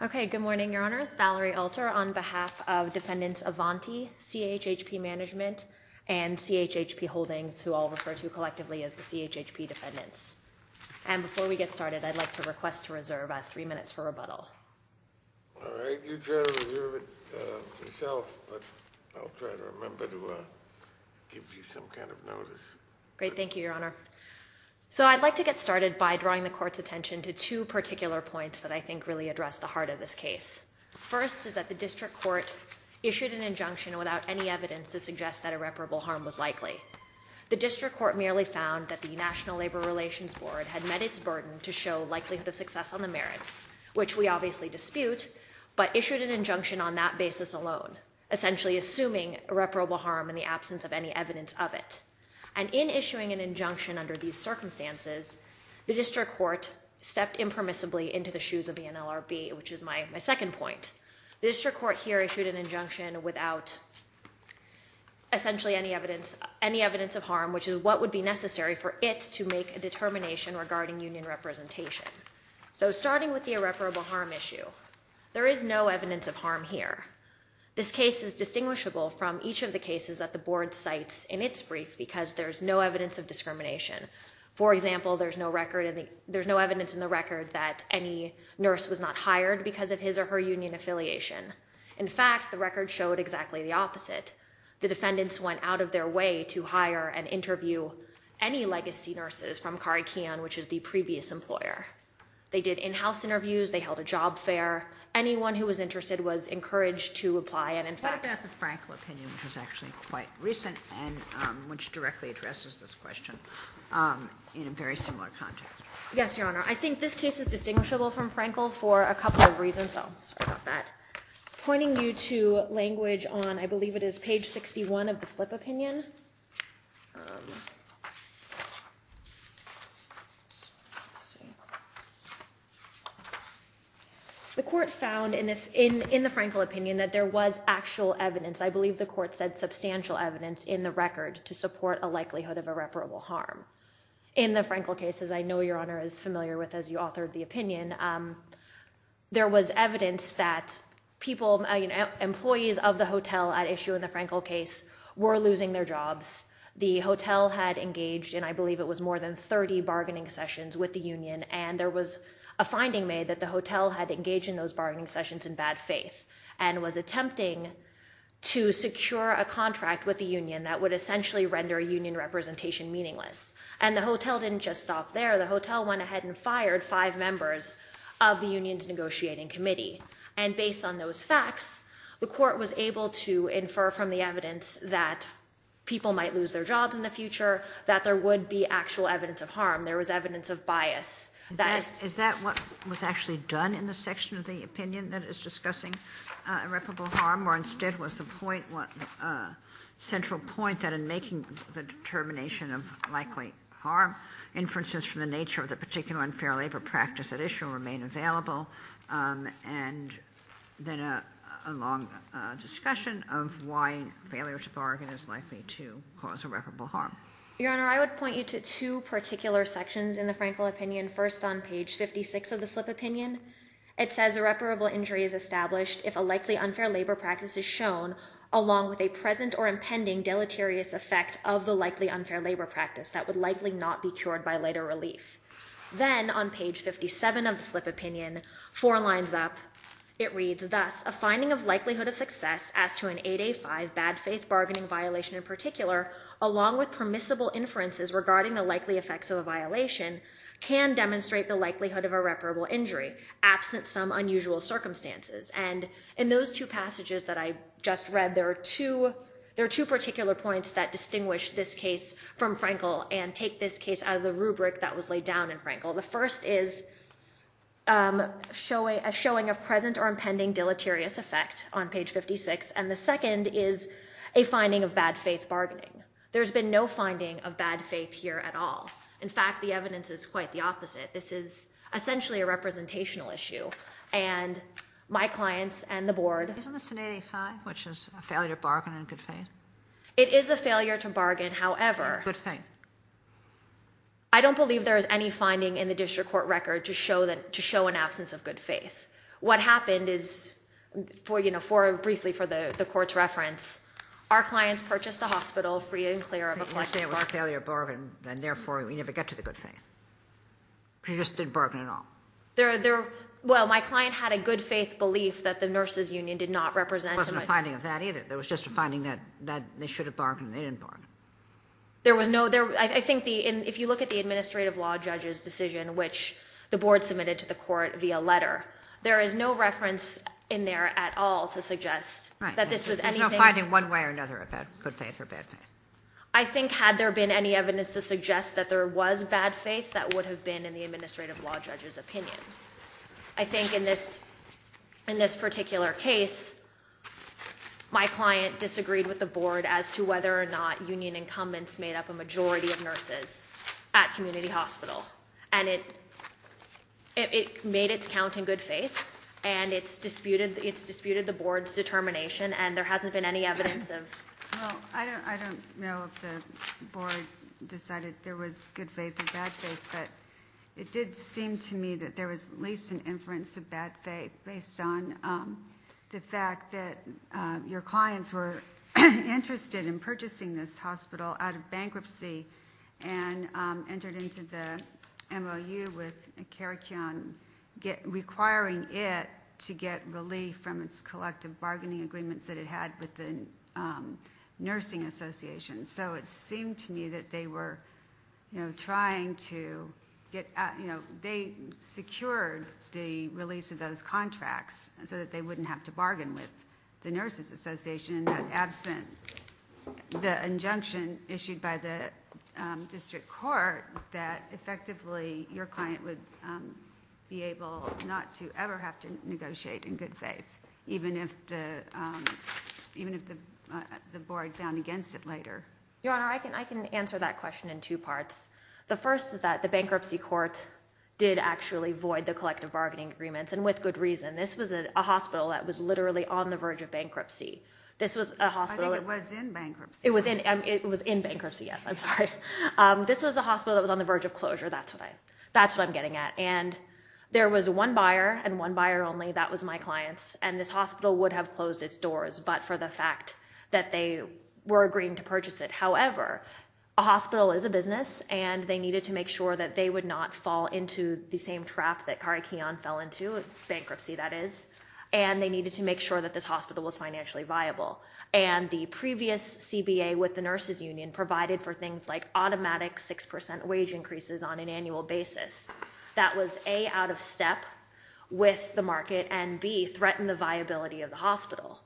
Okay. Good morning, Your Honors. Valerie Alter on behalf of Defendants Avanti, CHHP Management, and CHHP Holdings, who I'll refer to collectively as the CHHP Defendants. And before we get started, I'd like to request to reserve three minutes for rebuttal. All right. You try to reserve it yourself, but I'll try to remember to give you some kind of notice. Great. Thank you, Your Honor. So I'd like to get started by drawing the Court's attention to two particular points that I think really address the heart of this case. First is that the District Court issued an injunction without any evidence to suggest that irreparable harm was likely. The District Court merely found that the National Labor Relations Board had met its burden to show likelihood of success on the merits, which we obviously dispute, but issued an injunction on that basis alone, essentially assuming irreparable harm in the absence of any evidence of it. And in issuing an injunction under these circumstances, the District Court stepped impermissibly into the shoes of the NLRB, which is my second point. The District Court here issued an injunction without essentially any evidence of harm, which is what would be necessary for it to make a determination regarding union representation. So starting with the irreparable harm issue, there is no evidence of harm here. This case is distinguishable from each of the cases that the Board cites in its brief because there's no evidence of discrimination. For example, there's no evidence in the record that any nurse was not hired because of his or her union affiliation. In fact, the record showed exactly the opposite. The defendants went out of their way to hire and interview any legacy nurses from Carikeon, which is the previous employer. They did in-house interviews. They held a job fair. Anyone who was interested was encouraged to apply, and in fact- What about the Frankel opinion, which was actually quite recent and which directly addresses this question in a very similar context? Yes, Your Honor. I think this case is distinguishable from Frankel for a couple of reasons, so sorry about that. Pointing you to language on, I believe it is page 61 of the slip opinion. The court found in the Frankel opinion that there was actual evidence. I believe the court said substantial evidence in the record to support a likelihood of irreparable harm. In the Frankel case, as I know Your Honor is familiar with as you authored the opinion, there was evidence that employees of the hotel at issue in the Frankel case were losing their jobs. The hotel had engaged in, I believe it was more than 30 bargaining sessions with the union, and there was a finding made that the hotel had engaged in those bargaining sessions in bad faith and was attempting to secure a contract with the union that would essentially render union representation meaningless, and the hotel didn't just stop there. The hotel went ahead and fired five members of the union's negotiating committee, and based on those facts, the court was able to infer from the evidence that people might lose their jobs in the future, that there would be actual evidence of harm. There was evidence of bias. Is that what was actually done in the section of the opinion that is discussing irreparable harm, or instead was the central point that in making the determination of likely harm, inferences from the nature of the particular unfair labor practice at issue remain available, and then a long discussion of why failure to bargain is likely to cause irreparable harm? Your Honor, I would point you to two particular sections in the Frankel opinion, first on page 56 of the slip opinion. It says irreparable injury is established if a likely unfair labor practice is shown, along with a present or impending deleterious effect of the likely unfair labor practice that would likely not be cured by later relief. Then on page 57 of the slip opinion, four lines up. It reads, thus, a finding of likelihood of success as to an 8A5 bad faith bargaining violation in particular, along with permissible inferences regarding the likely effects of a violation, can demonstrate the likelihood of irreparable injury, absent some unusual circumstances. And in those two passages that I just read, there are two particular points that distinguish this case from Frankel and take this case out of the rubric that was laid down in Frankel. The first is a showing of present or impending deleterious effect on page 56, and the second is a finding of bad faith bargaining. There's been no finding of bad faith here at all. In fact, the evidence is quite the opposite. This is essentially a representational issue, and my clients and the board. Isn't this an 8A5, which is a failure to bargain in good faith? It is a failure to bargain, however. Good faith. I don't believe there is any finding in the district court record to show an absence of good faith. What happened is, briefly for the court's reference, our clients purchased a hospital free and clear of a collection of bad faith. So you're saying it was a failure to bargain, and therefore we never get to the good faith. Because you just didn't bargain at all. Well, my client had a good faith belief that the nurses union did not represent him. There wasn't a finding of that either. There was just a finding that they should have bargained and they didn't bargain. I think if you look at the administrative law judge's decision, which the board submitted to the court via letter, there is no reference in there at all to suggest that this was anything. There's no finding one way or another about good faith or bad faith. I think had there been any evidence to suggest that there was bad faith, that would have been in the administrative law judge's opinion. I think in this particular case, my client disagreed with the board as to whether or not union incumbents made up a majority of nurses at community hospital. And it made its count in good faith, and it's disputed the board's determination, and there hasn't been any evidence of it. Well, I don't know if the board decided there was good faith or bad faith, but it did seem to me that there was at least an inference of bad faith based on the fact that your clients were interested in purchasing this hospital out of bankruptcy and entered into the MOU with Care Qion requiring it to get relief from its collective bargaining agreements that it had with the nursing association. So it seemed to me that they secured the release of those contracts so that they wouldn't have to bargain with the nurses association. The injunction issued by the district court that effectively your client would be able not to ever have to negotiate in good faith, even if the board found against it later. Your Honor, I can answer that question in two parts. The first is that the bankruptcy court did actually void the collective bargaining agreements, and with good reason. This was a hospital that was literally on the verge of bankruptcy. I think it was in bankruptcy. It was in bankruptcy, yes. I'm sorry. This was a hospital that was on the verge of closure. That's what I'm getting at. And there was one buyer and one buyer only. That was my clients, and this hospital would have closed its doors, but for the fact that they were agreeing to purchase it. However, a hospital is a business, and they needed to make sure that they would not fall into the same trap that Care Qion fell into, bankruptcy that is, and they needed to make sure that this hospital was financially viable. And the previous CBA with the nurses union provided for things like automatic 6% wage increases on an annual basis. That was A, out of step with the market, and B, threatened the viability of the hospital.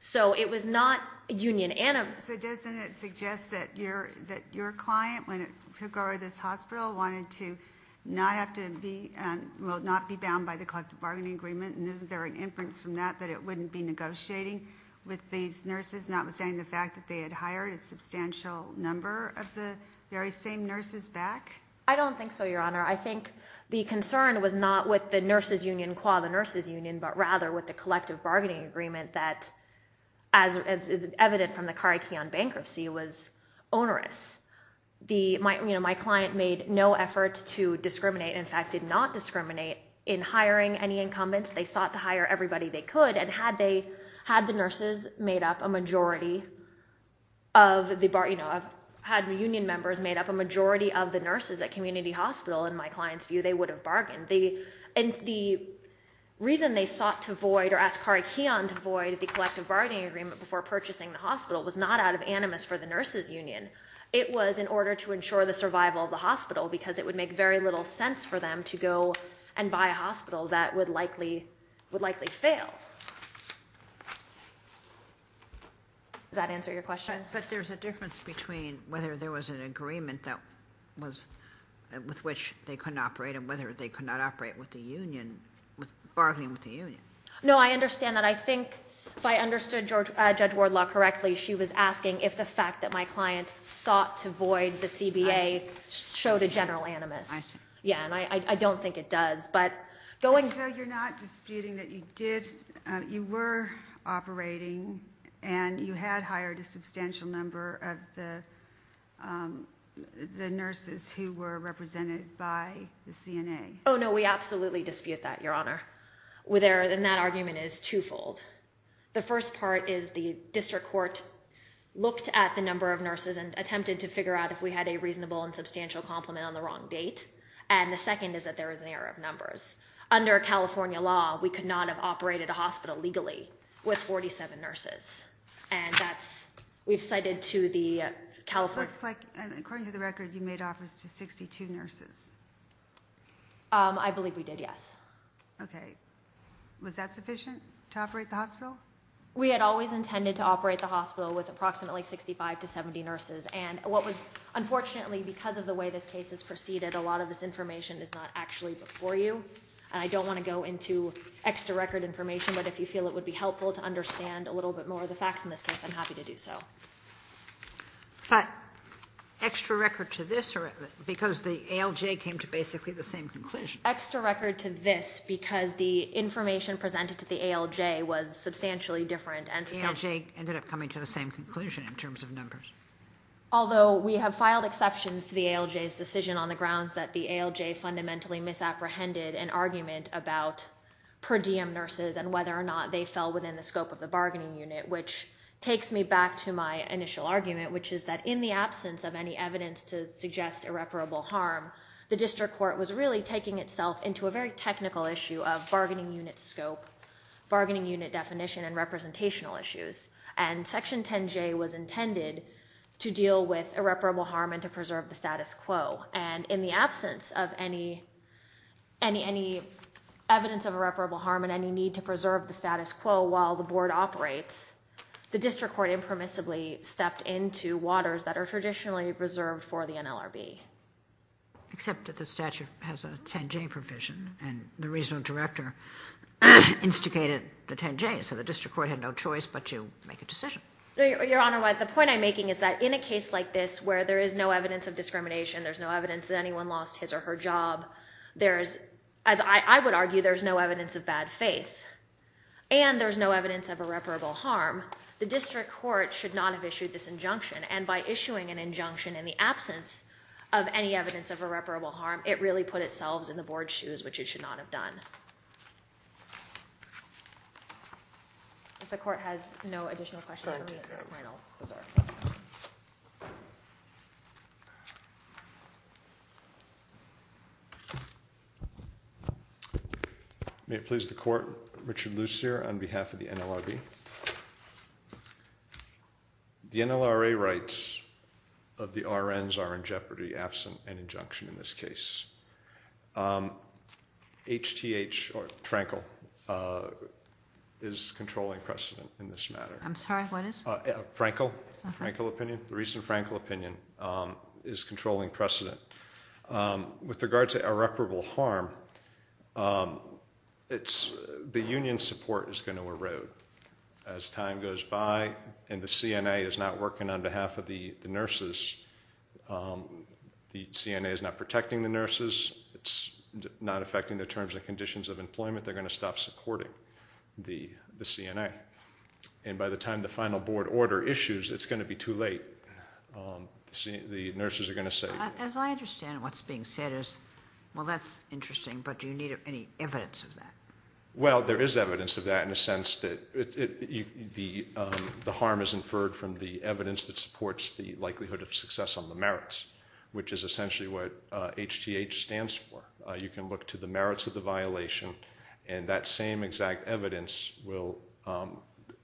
So it was not union-animous. So doesn't it suggest that your client, when it took over this hospital, wanted to not have to be, well, not be bound by the collective bargaining agreement, and is there an inference from that that it wouldn't be negotiating with these nurses, notwithstanding the fact that they had hired a substantial number of the very same nurses back? I don't think so, Your Honor. I think the concern was not with the nurses union, qua the nurses union, but rather with the collective bargaining agreement that, as is evident from the Care Qion bankruptcy, was onerous. My client made no effort to discriminate, in fact, did not discriminate in hiring any incumbents. They sought to hire everybody they could. And had the nurses made up a majority of the union members made up a majority of the nurses at community hospital, in my client's view, they would have bargained. And the reason they sought to void or asked Care Qion to void the collective bargaining agreement before purchasing the hospital was not out of animus for the nurses union. Because it would make very little sense for them to go and buy a hospital that would likely fail. Does that answer your question? But there's a difference between whether there was an agreement that was with which they couldn't operate and whether they could not operate with the union, with bargaining with the union. No, I understand that. I think if I understood Judge Wardlock correctly, she was asking if the fact that my client sought to void the CBA showed a general animus. Yeah, and I don't think it does. So you're not disputing that you were operating and you had hired a substantial number of the nurses who were represented by the CNA? Oh, no, we absolutely dispute that, Your Honor. And that argument is twofold. The first part is the district court looked at the number of nurses and attempted to figure out if we had a reasonable and substantial complement on the wrong date. And the second is that there is an error of numbers. Under California law, we could not have operated a hospital legally with 47 nurses. And that's, we've cited to the California… It looks like, according to the record, you made offers to 62 nurses. I believe we did, yes. Okay. Was that sufficient to operate the hospital? We had always intended to operate the hospital with approximately 65 to 70 nurses. And what was, unfortunately, because of the way this case has proceeded, a lot of this information is not actually before you. And I don't want to go into extra record information, but if you feel it would be helpful to understand a little bit more of the facts in this case, I'm happy to do so. But extra record to this, because the ALJ came to basically the same conclusion. Extra record to this, because the information presented to the ALJ was substantially different and substantial. The ALJ ended up coming to the same conclusion in terms of numbers. Although we have filed exceptions to the ALJ's decision on the grounds that the ALJ fundamentally misapprehended an argument about per diem nurses and whether or not they fell within the scope of the bargaining unit, which takes me back to my initial argument, which is that in the absence of any evidence to suggest irreparable harm, the district court was really taking itself into a very technical issue of bargaining unit scope, bargaining unit definition, and representational issues. And Section 10J was intended to deal with irreparable harm and to preserve the status quo. And in the absence of any evidence of irreparable harm and any need to preserve the status quo while the board operates, the district court impermissibly stepped into waters that are traditionally preserved for the NLRB. Except that the statute has a 10J provision, and the regional director instigated the 10J, so the district court had no choice but to make a decision. Your Honor, the point I'm making is that in a case like this where there is no evidence of discrimination, there's no evidence that anyone lost his or her job, there's, as I would argue, there's no evidence of bad faith. And there's no evidence of irreparable harm. The district court should not have issued this injunction. And by issuing an injunction in the absence of any evidence of irreparable harm, it really put itself in the board's shoes, which it should not have done. If the court has no additional questions for me at this point, I'll reserve. Thank you. May it please the court. Richard Lucere on behalf of the NLRB. The NLRA rights of the RNs are in jeopardy absent an injunction in this case. HTH, or Frankel, is controlling precedent in this matter. I'm sorry, what is? Frankel, the recent Frankel opinion is controlling precedent. With regard to irreparable harm, the union support is going to erode as time goes by and the CNA is not working on behalf of the nurses. The CNA is not protecting the nurses. It's not affecting their terms and conditions of employment. They're going to stop supporting the CNA. And by the time the final board order issues, it's going to be too late. The nurses are going to say. As I understand it, what's being said is, well, that's interesting, but do you need any evidence of that? Well, there is evidence of that in the sense that the harm is inferred from the evidence that supports the likelihood of success on the merits, which is essentially what HTH stands for. You can look to the merits of the violation, and that same exact evidence will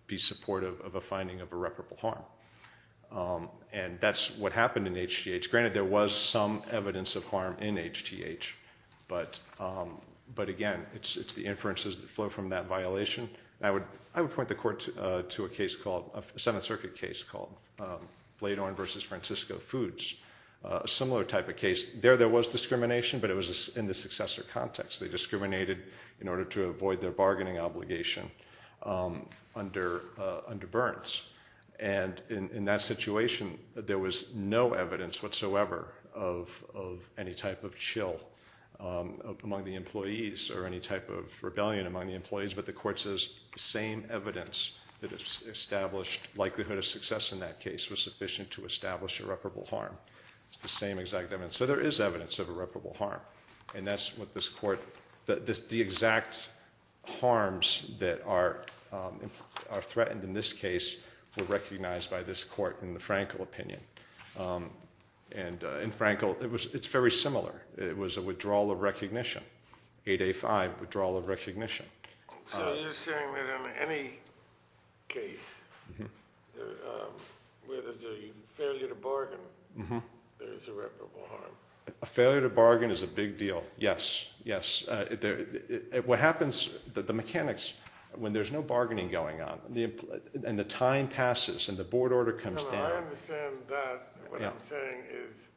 be supportive of a finding of irreparable harm. And that's what happened in HTH. Granted, there was some evidence of harm in HTH. But, again, it's the inferences that flow from that violation. I would point the court to a case called, a Seventh Circuit case called Bladorn v. Francisco Foods, a similar type of case. There, there was discrimination, but it was in the successor context. They discriminated in order to avoid their bargaining obligation under Burns. And in that situation, there was no evidence whatsoever of any type of chill among the employees or any type of rebellion among the employees. But the court says the same evidence that established likelihood of success in that case was sufficient to establish irreparable harm. It's the same exact evidence. So there is evidence of irreparable harm. And that's what this court, the exact harms that are threatened in this case were recognized by this court in the Frankel opinion. And in Frankel, it's very similar. It was a withdrawal of recognition, 8A5, withdrawal of recognition. So you're saying that in any case, whether it's a failure to bargain, there's irreparable harm. A failure to bargain is a big deal. Yes, yes. What happens, the mechanics, when there's no bargaining going on and the time passes and the board order comes down. I understand that. What I'm saying is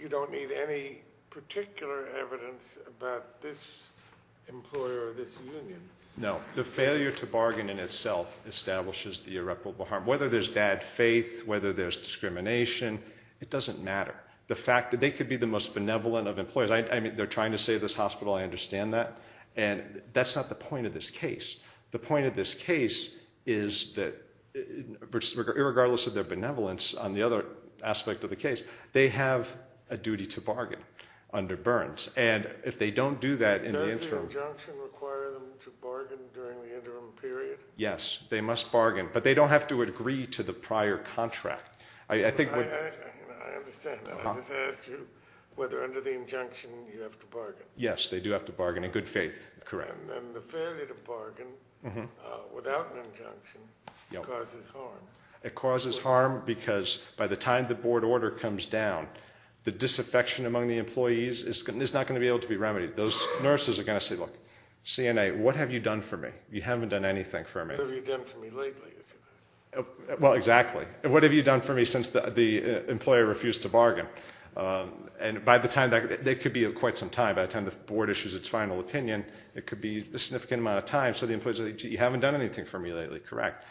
you don't need any particular evidence about this employer or this union. No. The failure to bargain in itself establishes the irreparable harm. Whether there's bad faith, whether there's discrimination, it doesn't matter. The fact that they could be the most benevolent of employers. I mean, they're trying to save this hospital. I understand that. And that's not the point of this case. The point of this case is that, regardless of their benevolence on the other aspect of the case, they have a duty to bargain under Burns. And if they don't do that in the interim. Does the injunction require them to bargain during the interim period? Yes, they must bargain. But they don't have to agree to the prior contract. I understand that. I just asked you whether under the injunction you have to bargain. Yes, they do have to bargain in good faith. Correct. And the failure to bargain without an injunction causes harm. It causes harm because by the time the board order comes down, the disaffection among the employees is not going to be able to be remedied. Those nurses are going to say, look, CNA, what have you done for me? You haven't done anything for me. What have you done for me lately? Well, exactly. What have you done for me since the employer refused to bargain? And by the time that could be quite some time, by the time the board issues its final opinion, it could be a significant amount of time, so the employee is going to say, you haven't done anything for me lately. Correct.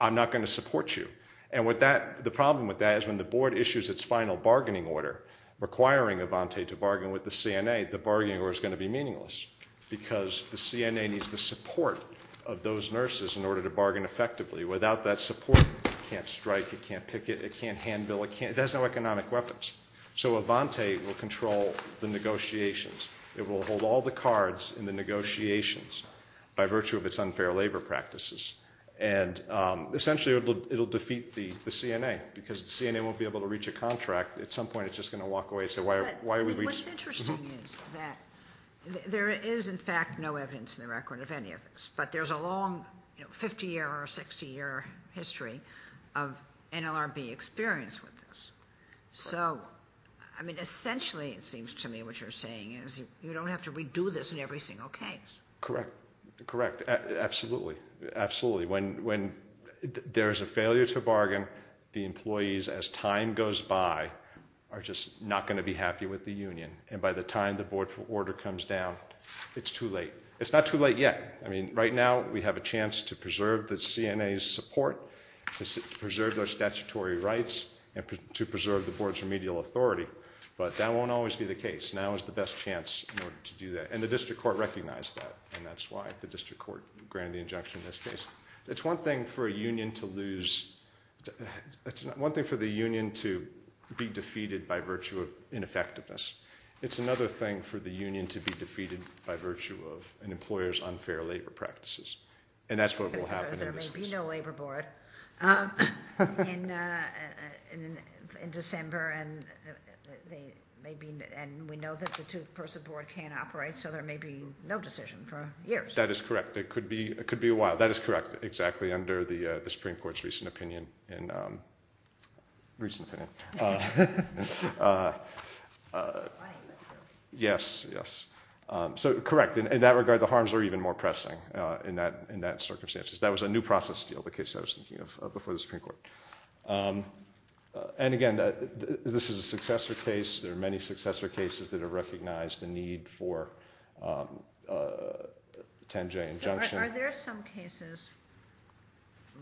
I'm not going to support you. And the problem with that is when the board issues its final bargaining order requiring Avante to bargain with the CNA, the bargaining order is going to be meaningless because the CNA needs the support of those nurses in order to bargain effectively. Without that support, it can't strike, it can't picket, it can't hand bill, it has no economic weapons. So Avante will control the negotiations. It will hold all the cards in the negotiations by virtue of its unfair labor practices. And essentially it will defeat the CNA because the CNA won't be able to reach a contract. At some point it's just going to walk away and say, why are we reaching? What's interesting is that there is, in fact, no evidence in the record of any of this, but there's a long 50-year or 60-year history of NLRB experience with this. So, I mean, essentially it seems to me what you're saying is you don't have to redo this in every single case. Correct. Correct. Absolutely. Absolutely. When there is a failure to bargain, the employees as time goes by are just not going to be happy with the union. And by the time the board order comes down, it's too late. It's not too late yet. I mean, right now we have a chance to preserve the CNA's support, to preserve their statutory rights, and to preserve the board's remedial authority, but that won't always be the case. Now is the best chance in order to do that. And the district court recognized that, and that's why the district court granted the injunction in this case. It's one thing for a union to lose. It's one thing for the union to be defeated by virtue of ineffectiveness. It's another thing for the union to be defeated by virtue of an employer's unfair labor practices. And that's what will happen in this case. Because there may be no labor board in December, and we know that the two-person board can't operate, so there may be no decision for years. That is correct. It could be a while. That is correct, exactly, under the Supreme Court's recent opinion. Recent opinion. Yes, yes. So correct. In that regard, the harms are even more pressing in that circumstance. That was a new process deal, the case I was thinking of before the Supreme Court. And, again, this is a successor case. There are many successor cases that have recognized the need for a 10-J injunction. Are there some cases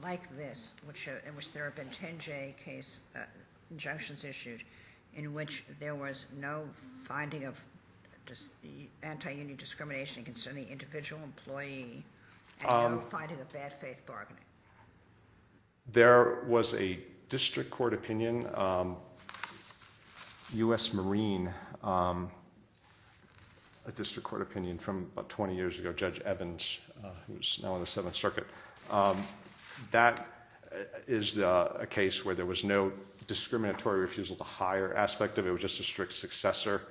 like this in which there have been 10-J injunctions issued in which there was no finding of anti-union discrimination concerning individual employee and no finding of bad faith bargaining? There was a district court opinion, U.S. Marine, a district court opinion from about 20 years ago, Judge Evans, who is now on the Seventh Circuit. That is a case where there was no discriminatory refusal to hire aspect of it. It was just a strict successor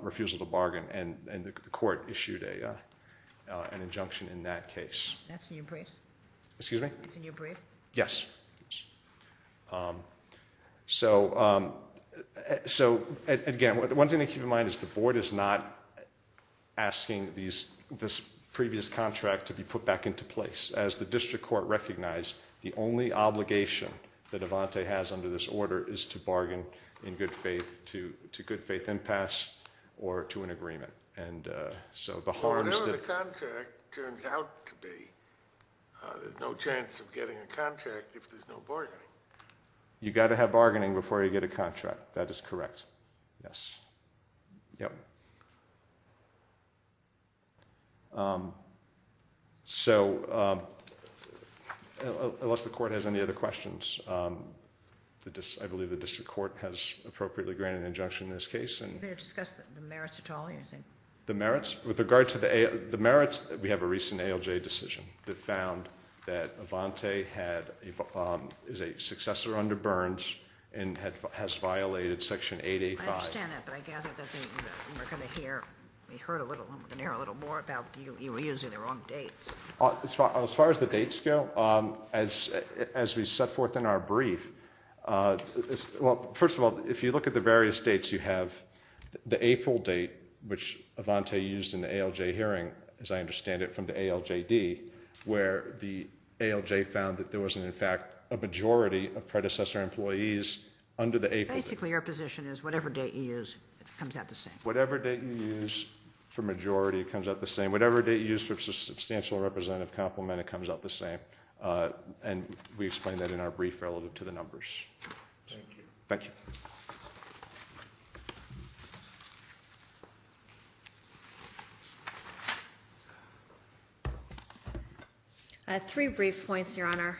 refusal to bargain, and the court issued an injunction in that case. That's in your brief? Excuse me? That's in your brief? Yes. So, again, one thing to keep in mind is the board is not asking this previous contract to be put back into place. As the district court recognized, the only obligation that Avante has under this order is to bargain in good faith to good faith impasse or to an agreement. Whatever the contract turns out to be, there's no chance of getting a contract if there's no bargaining. You've got to have bargaining before you get a contract. That is correct. Yes. Yep. So, unless the court has any other questions, I believe the district court has appropriately granted an injunction in this case. Are you going to discuss the merits at all or anything? The merits? With regard to the merits, we have a recent ALJ decision that found that Avante is a successor under Burns and has violated Section 885. I understand that, but I gather that we're going to hear a little more about you using the wrong dates. As far as the dates go, as we set forth in our brief, well, first of all, if you look at the various dates, you have the April date, which Avante used in the ALJ hearing, as I understand it, from the ALJD, where the ALJ found that there was, in fact, a majority of predecessor employees under the April date. Basically, your position is whatever date you use, it comes out the same. Whatever date you use for majority, it comes out the same. Whatever date you use for substantial representative complement, it comes out the same. Thank you. I have three brief points, Your Honor.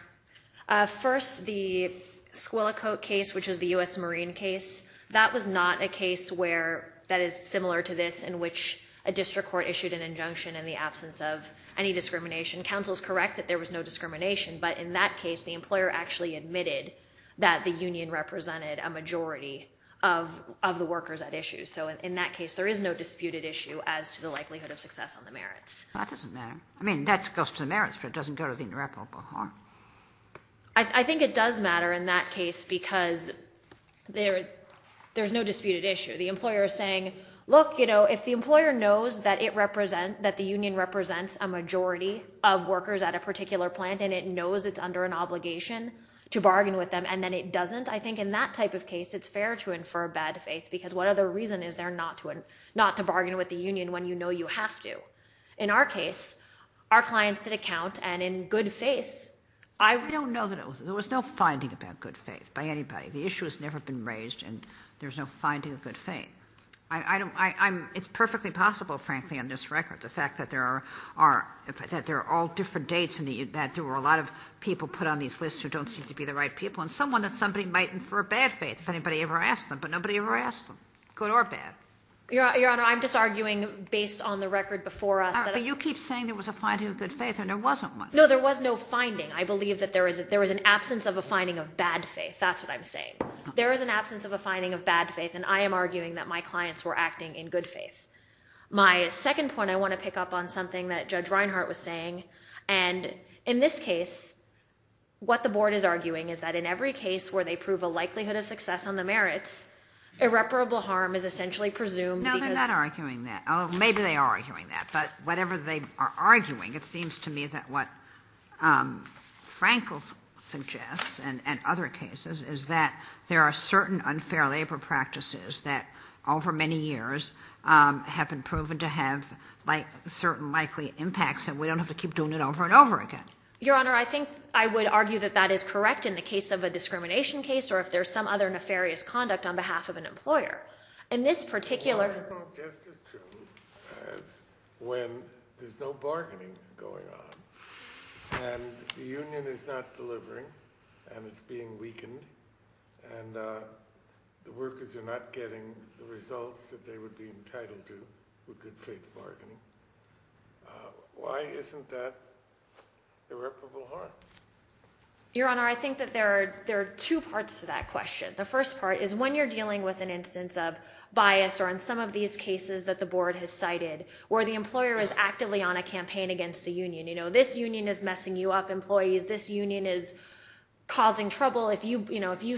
First, the Squillacote case, which is the U.S. Marine case, that was not a case that is similar to this in which a district court issued an injunction in the absence of any discrimination. Counsel is correct that there was no discrimination, but in that case, the employer actually admitted that the union represented a majority of the workers at issue. So, in that case, there is no disputed issue as to the likelihood of success on the merits. That doesn't matter. I mean, that goes to the merits, but it doesn't go to the interoperable harm. I think it does matter in that case because there's no disputed issue. The employer is saying, look, you know, if the employer knows that it represents, that the union represents a majority of workers at a particular plant and it knows it's under an obligation to bargain with them and then it doesn't, I think in that type of case, it's fair to infer bad faith because what other reason is there not to bargain with the union when you know you have to? In our case, our clients did account and in good faith. I don't know that it was. There was no finding about good faith by anybody. The issue has never been raised and there's no finding of good faith. It's perfectly possible, frankly, on this record, the fact that there are all different dates and that there were a lot of people put on these lists who don't seem to be the right people and someone that somebody might infer bad faith if anybody ever asked them, but nobody ever asked them, good or bad. Your Honor, I'm just arguing based on the record before us. But you keep saying there was a finding of good faith and there wasn't one. No, there was no finding. I believe that there was an absence of a finding of bad faith. That's what I'm saying. There was an absence of a finding of bad faith and I am arguing that my clients were acting in good faith. My second point I want to pick up on something that Judge Reinhart was saying, and in this case, what the board is arguing is that in every case where they prove a likelihood of success on the merits, irreparable harm is essentially presumed because— No, they're not arguing that. Maybe they are arguing that, but whatever they are arguing, it seems to me that what Frankel suggests and other cases is that there are certain unfair labor practices that over many years have been proven to have certain likely impacts and we don't have to keep doing it over and over again. Your Honor, I think I would argue that that is correct in the case of a discrimination case or if there's some other nefarious conduct on behalf of an employer. Well, that's not just as true as when there's no bargaining going on and the union is not delivering and it's being weakened and the workers are not getting the results that they would be entitled to with good faith bargaining. Why isn't that irreparable harm? Your Honor, I think that there are two parts to that question. The first part is when you're dealing with an instance of bias or in some of these cases that the board has cited where the employer is actively on a campaign against the union. This union is messing you up, employees. This union is causing trouble. If you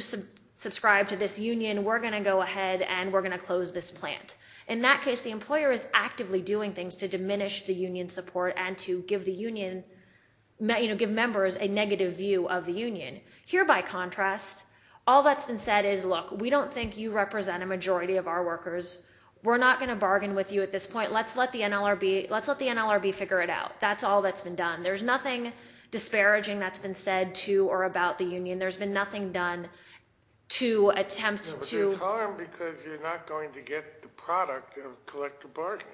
subscribe to this union, we're going to go ahead and we're going to close this plant. In that case, the employer is actively doing things to diminish the union support and to give members a negative view of the union. Here, by contrast, all that's been said is, look, we don't think you represent a majority of our workers. We're not going to bargain with you at this point. Let's let the NLRB figure it out. That's all that's been done. There's nothing disparaging that's been said to or about the union. There's been nothing done to attempt to— But there's harm because you're not going to get the product of collective bargaining.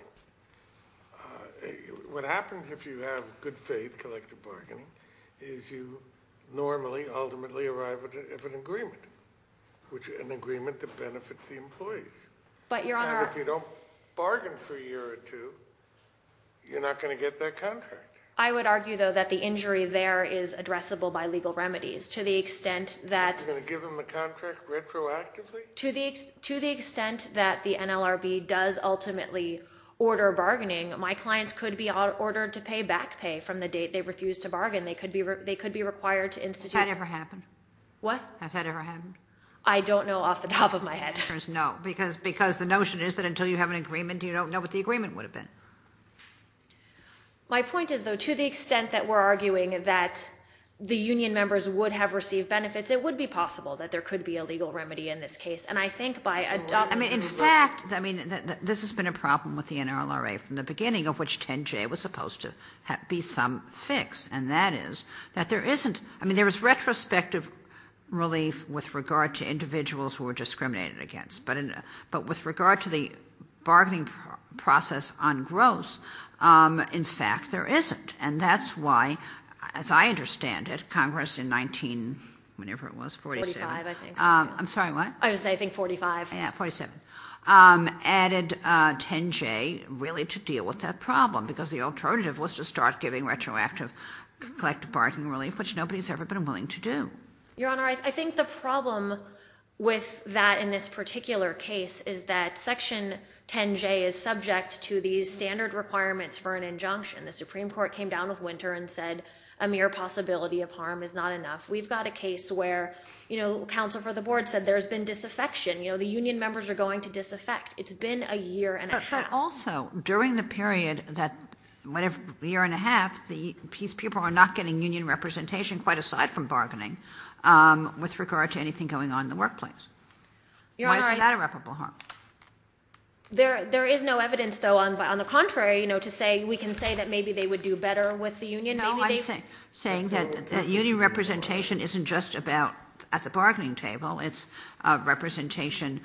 What happens if you have good faith collective bargaining is you normally ultimately arrive at an agreement, an agreement that benefits the employees. But, Your Honor— And if you don't bargain for a year or two, you're not going to get that contract. I would argue, though, that the injury there is addressable by legal remedies. To the extent that— You're going to give them a contract retroactively? To the extent that the NLRB does ultimately order bargaining, my clients could be ordered to pay back pay from the date they refused to bargain. They could be required to institute— Has that ever happened? What? Has that ever happened? I don't know off the top of my head. There's no—because the notion is that until you have an agreement, you don't know what the agreement would have been. My point is, though, to the extent that we're arguing that the union members would have received benefits, it would be possible that there could be a legal remedy in this case. And I think by adopting— I mean, in fact, this has been a problem with the NLRA from the beginning, of which 10J was supposed to be some fix, and that is that there isn't—I mean, there is retrospective relief with regard to individuals who are discriminated against. But with regard to the bargaining process on gross, in fact, there isn't. And that's why, as I understand it, Congress in 19—whenever it was, 47. 45, I think. I'm sorry, what? I was going to say, I think 45. Yeah, 47. Added 10J really to deal with that problem because the alternative was to start giving retroactive collective bargaining relief, which nobody's ever been willing to do. Your Honor, I think the problem with that in this particular case is that Section 10J is subject to these standard requirements for an injunction. The Supreme Court came down with Winter and said a mere possibility of harm is not enough. We've got a case where, you know, counsel for the board said there's been disaffection. You know, the union members are going to disaffect. It's been a year and a half. But also, during the period that, whatever, year and a half, these people are not getting union representation quite aside from bargaining with regard to anything going on in the workplace. Why is that irreparable harm? There is no evidence, though, on the contrary, you know, to say we can say that maybe they would do better with the union. No, I'm saying that union representation isn't just about at the bargaining table. It's representation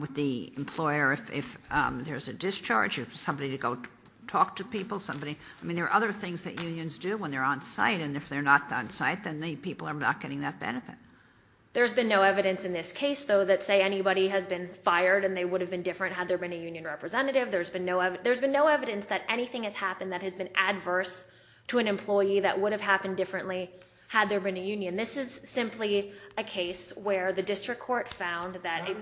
with the employer. If there's a discharge, somebody to go talk to people, somebody. I mean, there are other things that unions do when they're on site. And if they're not on site, then the people are not getting that benefit. There's been no evidence in this case, though, that say anybody has been fired and they would have been different had there been a union representative. There's been no evidence that anything has happened that has been adverse to an employee that would have happened differently had there been a union. This is simply a case where the district court found that. How do you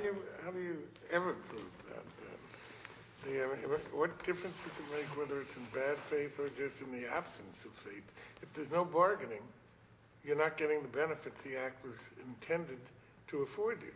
ever prove that? What difference does it make whether it's in bad faith or just in the absence of faith? If there's no bargaining, you're not getting the benefits the act was intended to afford you.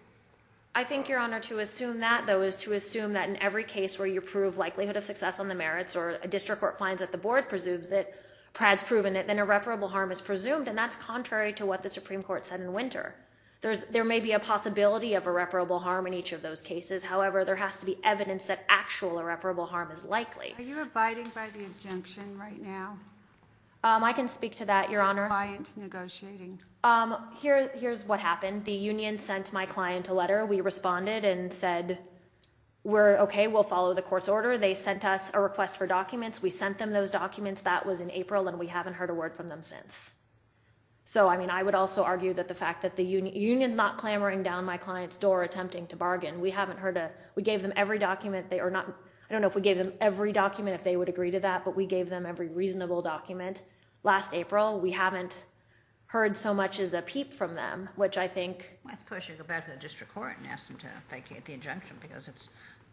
I think, Your Honor, to assume that, though, is to assume that in every case where you prove likelihood of success on the merits or a district court finds that the board presumes it, Pratt's proven it, then irreparable harm is presumed. And that's contrary to what the Supreme Court said in winter. There may be a possibility of irreparable harm in each of those cases. However, there has to be evidence that actual irreparable harm is likely. Are you abiding by the injunction right now? I can speak to that, Your Honor. Is your client negotiating? Here's what happened. The union sent my client a letter. We responded and said, OK, we'll follow the court's order. They sent us a request for documents. We sent them those documents. That was in April, and we haven't heard a word from them since. So, I mean, I would also argue that the fact that the union's not clamoring down my client's door attempting to bargain. We haven't heard a—we gave them every document. I don't know if we gave them every document, if they would agree to that, but we gave them every reasonable document last April. We haven't heard so much as a peep from them, which I think— Why don't you go back to the district court and ask them to get the injunction because it's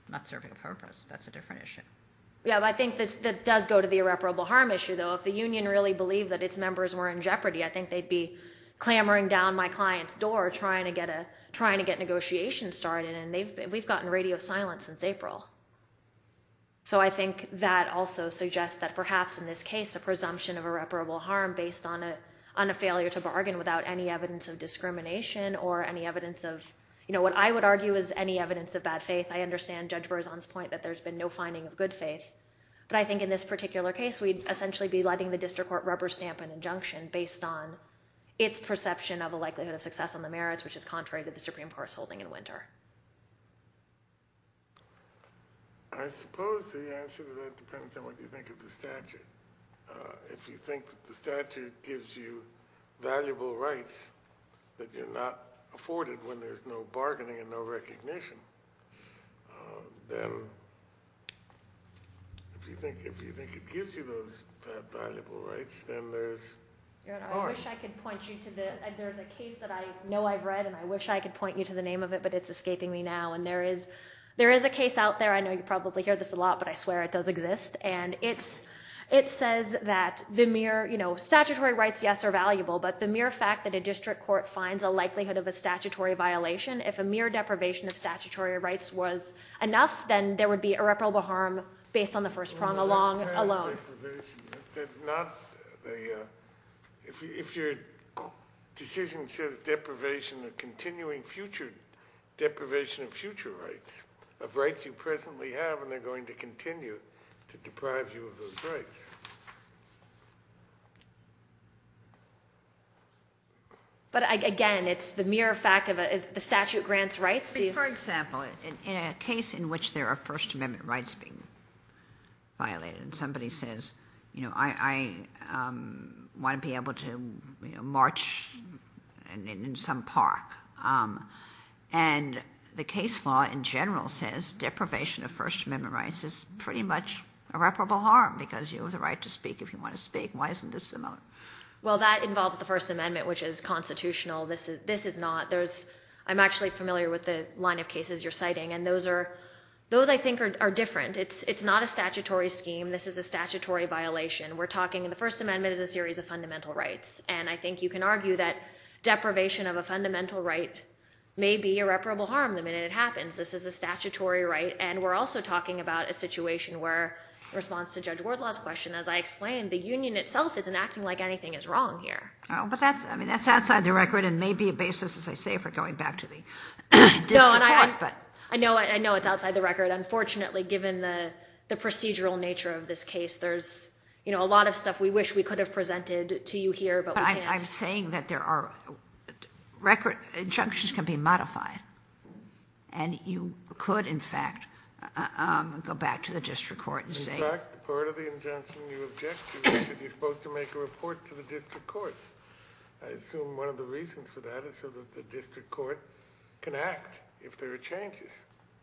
not serving a purpose. That's a different issue. Yeah, I think that does go to the irreparable harm issue, though. If the union really believed that its members were in jeopardy, I think they'd be clamoring down my client's door trying to get negotiations started, and we've gotten radio silence since April. So I think that also suggests that perhaps in this case a presumption of irreparable harm based on a failure to bargain without any evidence of discrimination or any evidence of—you know, what I would argue is any evidence of bad faith. I understand Judge Berzon's point that there's been no finding of good faith, but I think in this particular case we'd essentially be letting the district court rubber stamp an injunction based on its perception of a likelihood of success on the merits, which is contrary to the Supreme Court's holding in Winter. I suppose the answer to that depends on what you think of the statute. If you think that the statute gives you valuable rights that you're not afforded when there's no bargaining and no recognition, then if you think it gives you those valuable rights, then there's harm. I wish I could point you to the—there's a case that I know I've read, and I wish I could point you to the name of it, but it's escaping me now. And there is a case out there—I know you probably hear this a lot, but I swear it does exist. And it says that the mere—you know, statutory rights, yes, are valuable, but the mere fact that a district court finds a likelihood of a statutory violation, if a mere deprivation of statutory rights was enough, then there would be irreparable harm based on the first prong alone. If your decision says deprivation or continuing future deprivation of future rights, of rights you presently have, and they're going to continue to deprive you of those rights. But, again, it's the mere fact of the statute grants rights. For example, in a case in which there are First Amendment rights being violated and somebody says, you know, I want to be able to march in some park, and the case law in general says deprivation of First Amendment rights is pretty much irreparable harm because you have the right to speak if you want to speak. Why isn't this similar? Well, that involves the First Amendment, which is constitutional. This is not. I'm actually familiar with the line of cases you're citing, and those, I think, are different. It's not a statutory scheme. This is a statutory violation. We're talking, the First Amendment is a series of fundamental rights, and I think you can argue that deprivation of a fundamental right may be irreparable harm the minute it happens. This is a statutory right, and we're also talking about a situation where, in response to Judge Wardlaw's question, as I explained, the union itself isn't acting like anything is wrong here. Oh, but that's, I mean, that's outside the record and may be a basis, as I say, for going back to the district court. I know it's outside the record. Unfortunately, given the procedural nature of this case, there's a lot of stuff we wish we could have presented to you here, but we can't. I'm saying that there are record, injunctions can be modified, and you could, in fact, go back to the district court and say. In fact, part of the injunction you object to is that you're supposed to make a report to the district court. I assume one of the reasons for that is so that the district court can act if there are changes.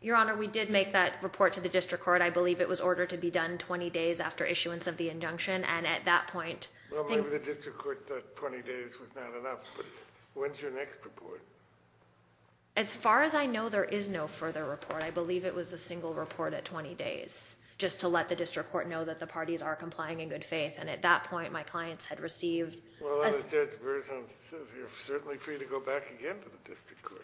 Your Honor, we did make that report to the district court. I believe it was ordered to be done 20 days after issuance of the injunction, and at that point. Well, maybe the district court thought 20 days was not enough, but when's your next report? As far as I know, there is no further report. I believe it was a single report at 20 days, just to let the district court know that the parties are complying in good faith, and at that point, my clients had received. Well, as Judge Berzon says, you're certainly free to go back again to the district court.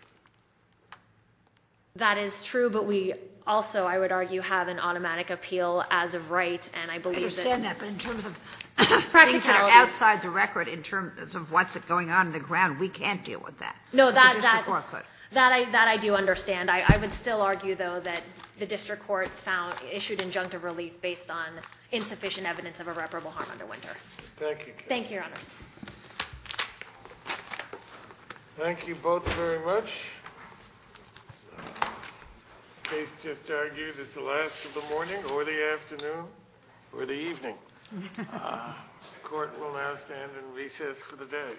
That is true, but we also, I would argue, have an automatic appeal as of right, and I believe that. I understand that, but in terms of things that are outside the record, in terms of what's going on in the ground, we can't deal with that. No, that I do understand. I would still argue, though, that the district court issued injunctive relief based on insufficient evidence of irreparable harm under Winter. Thank you. Thank you, Your Honor. Thank you both very much. The case just argued is the last of the morning, or the afternoon, or the evening. The court will now stand in recess for the day.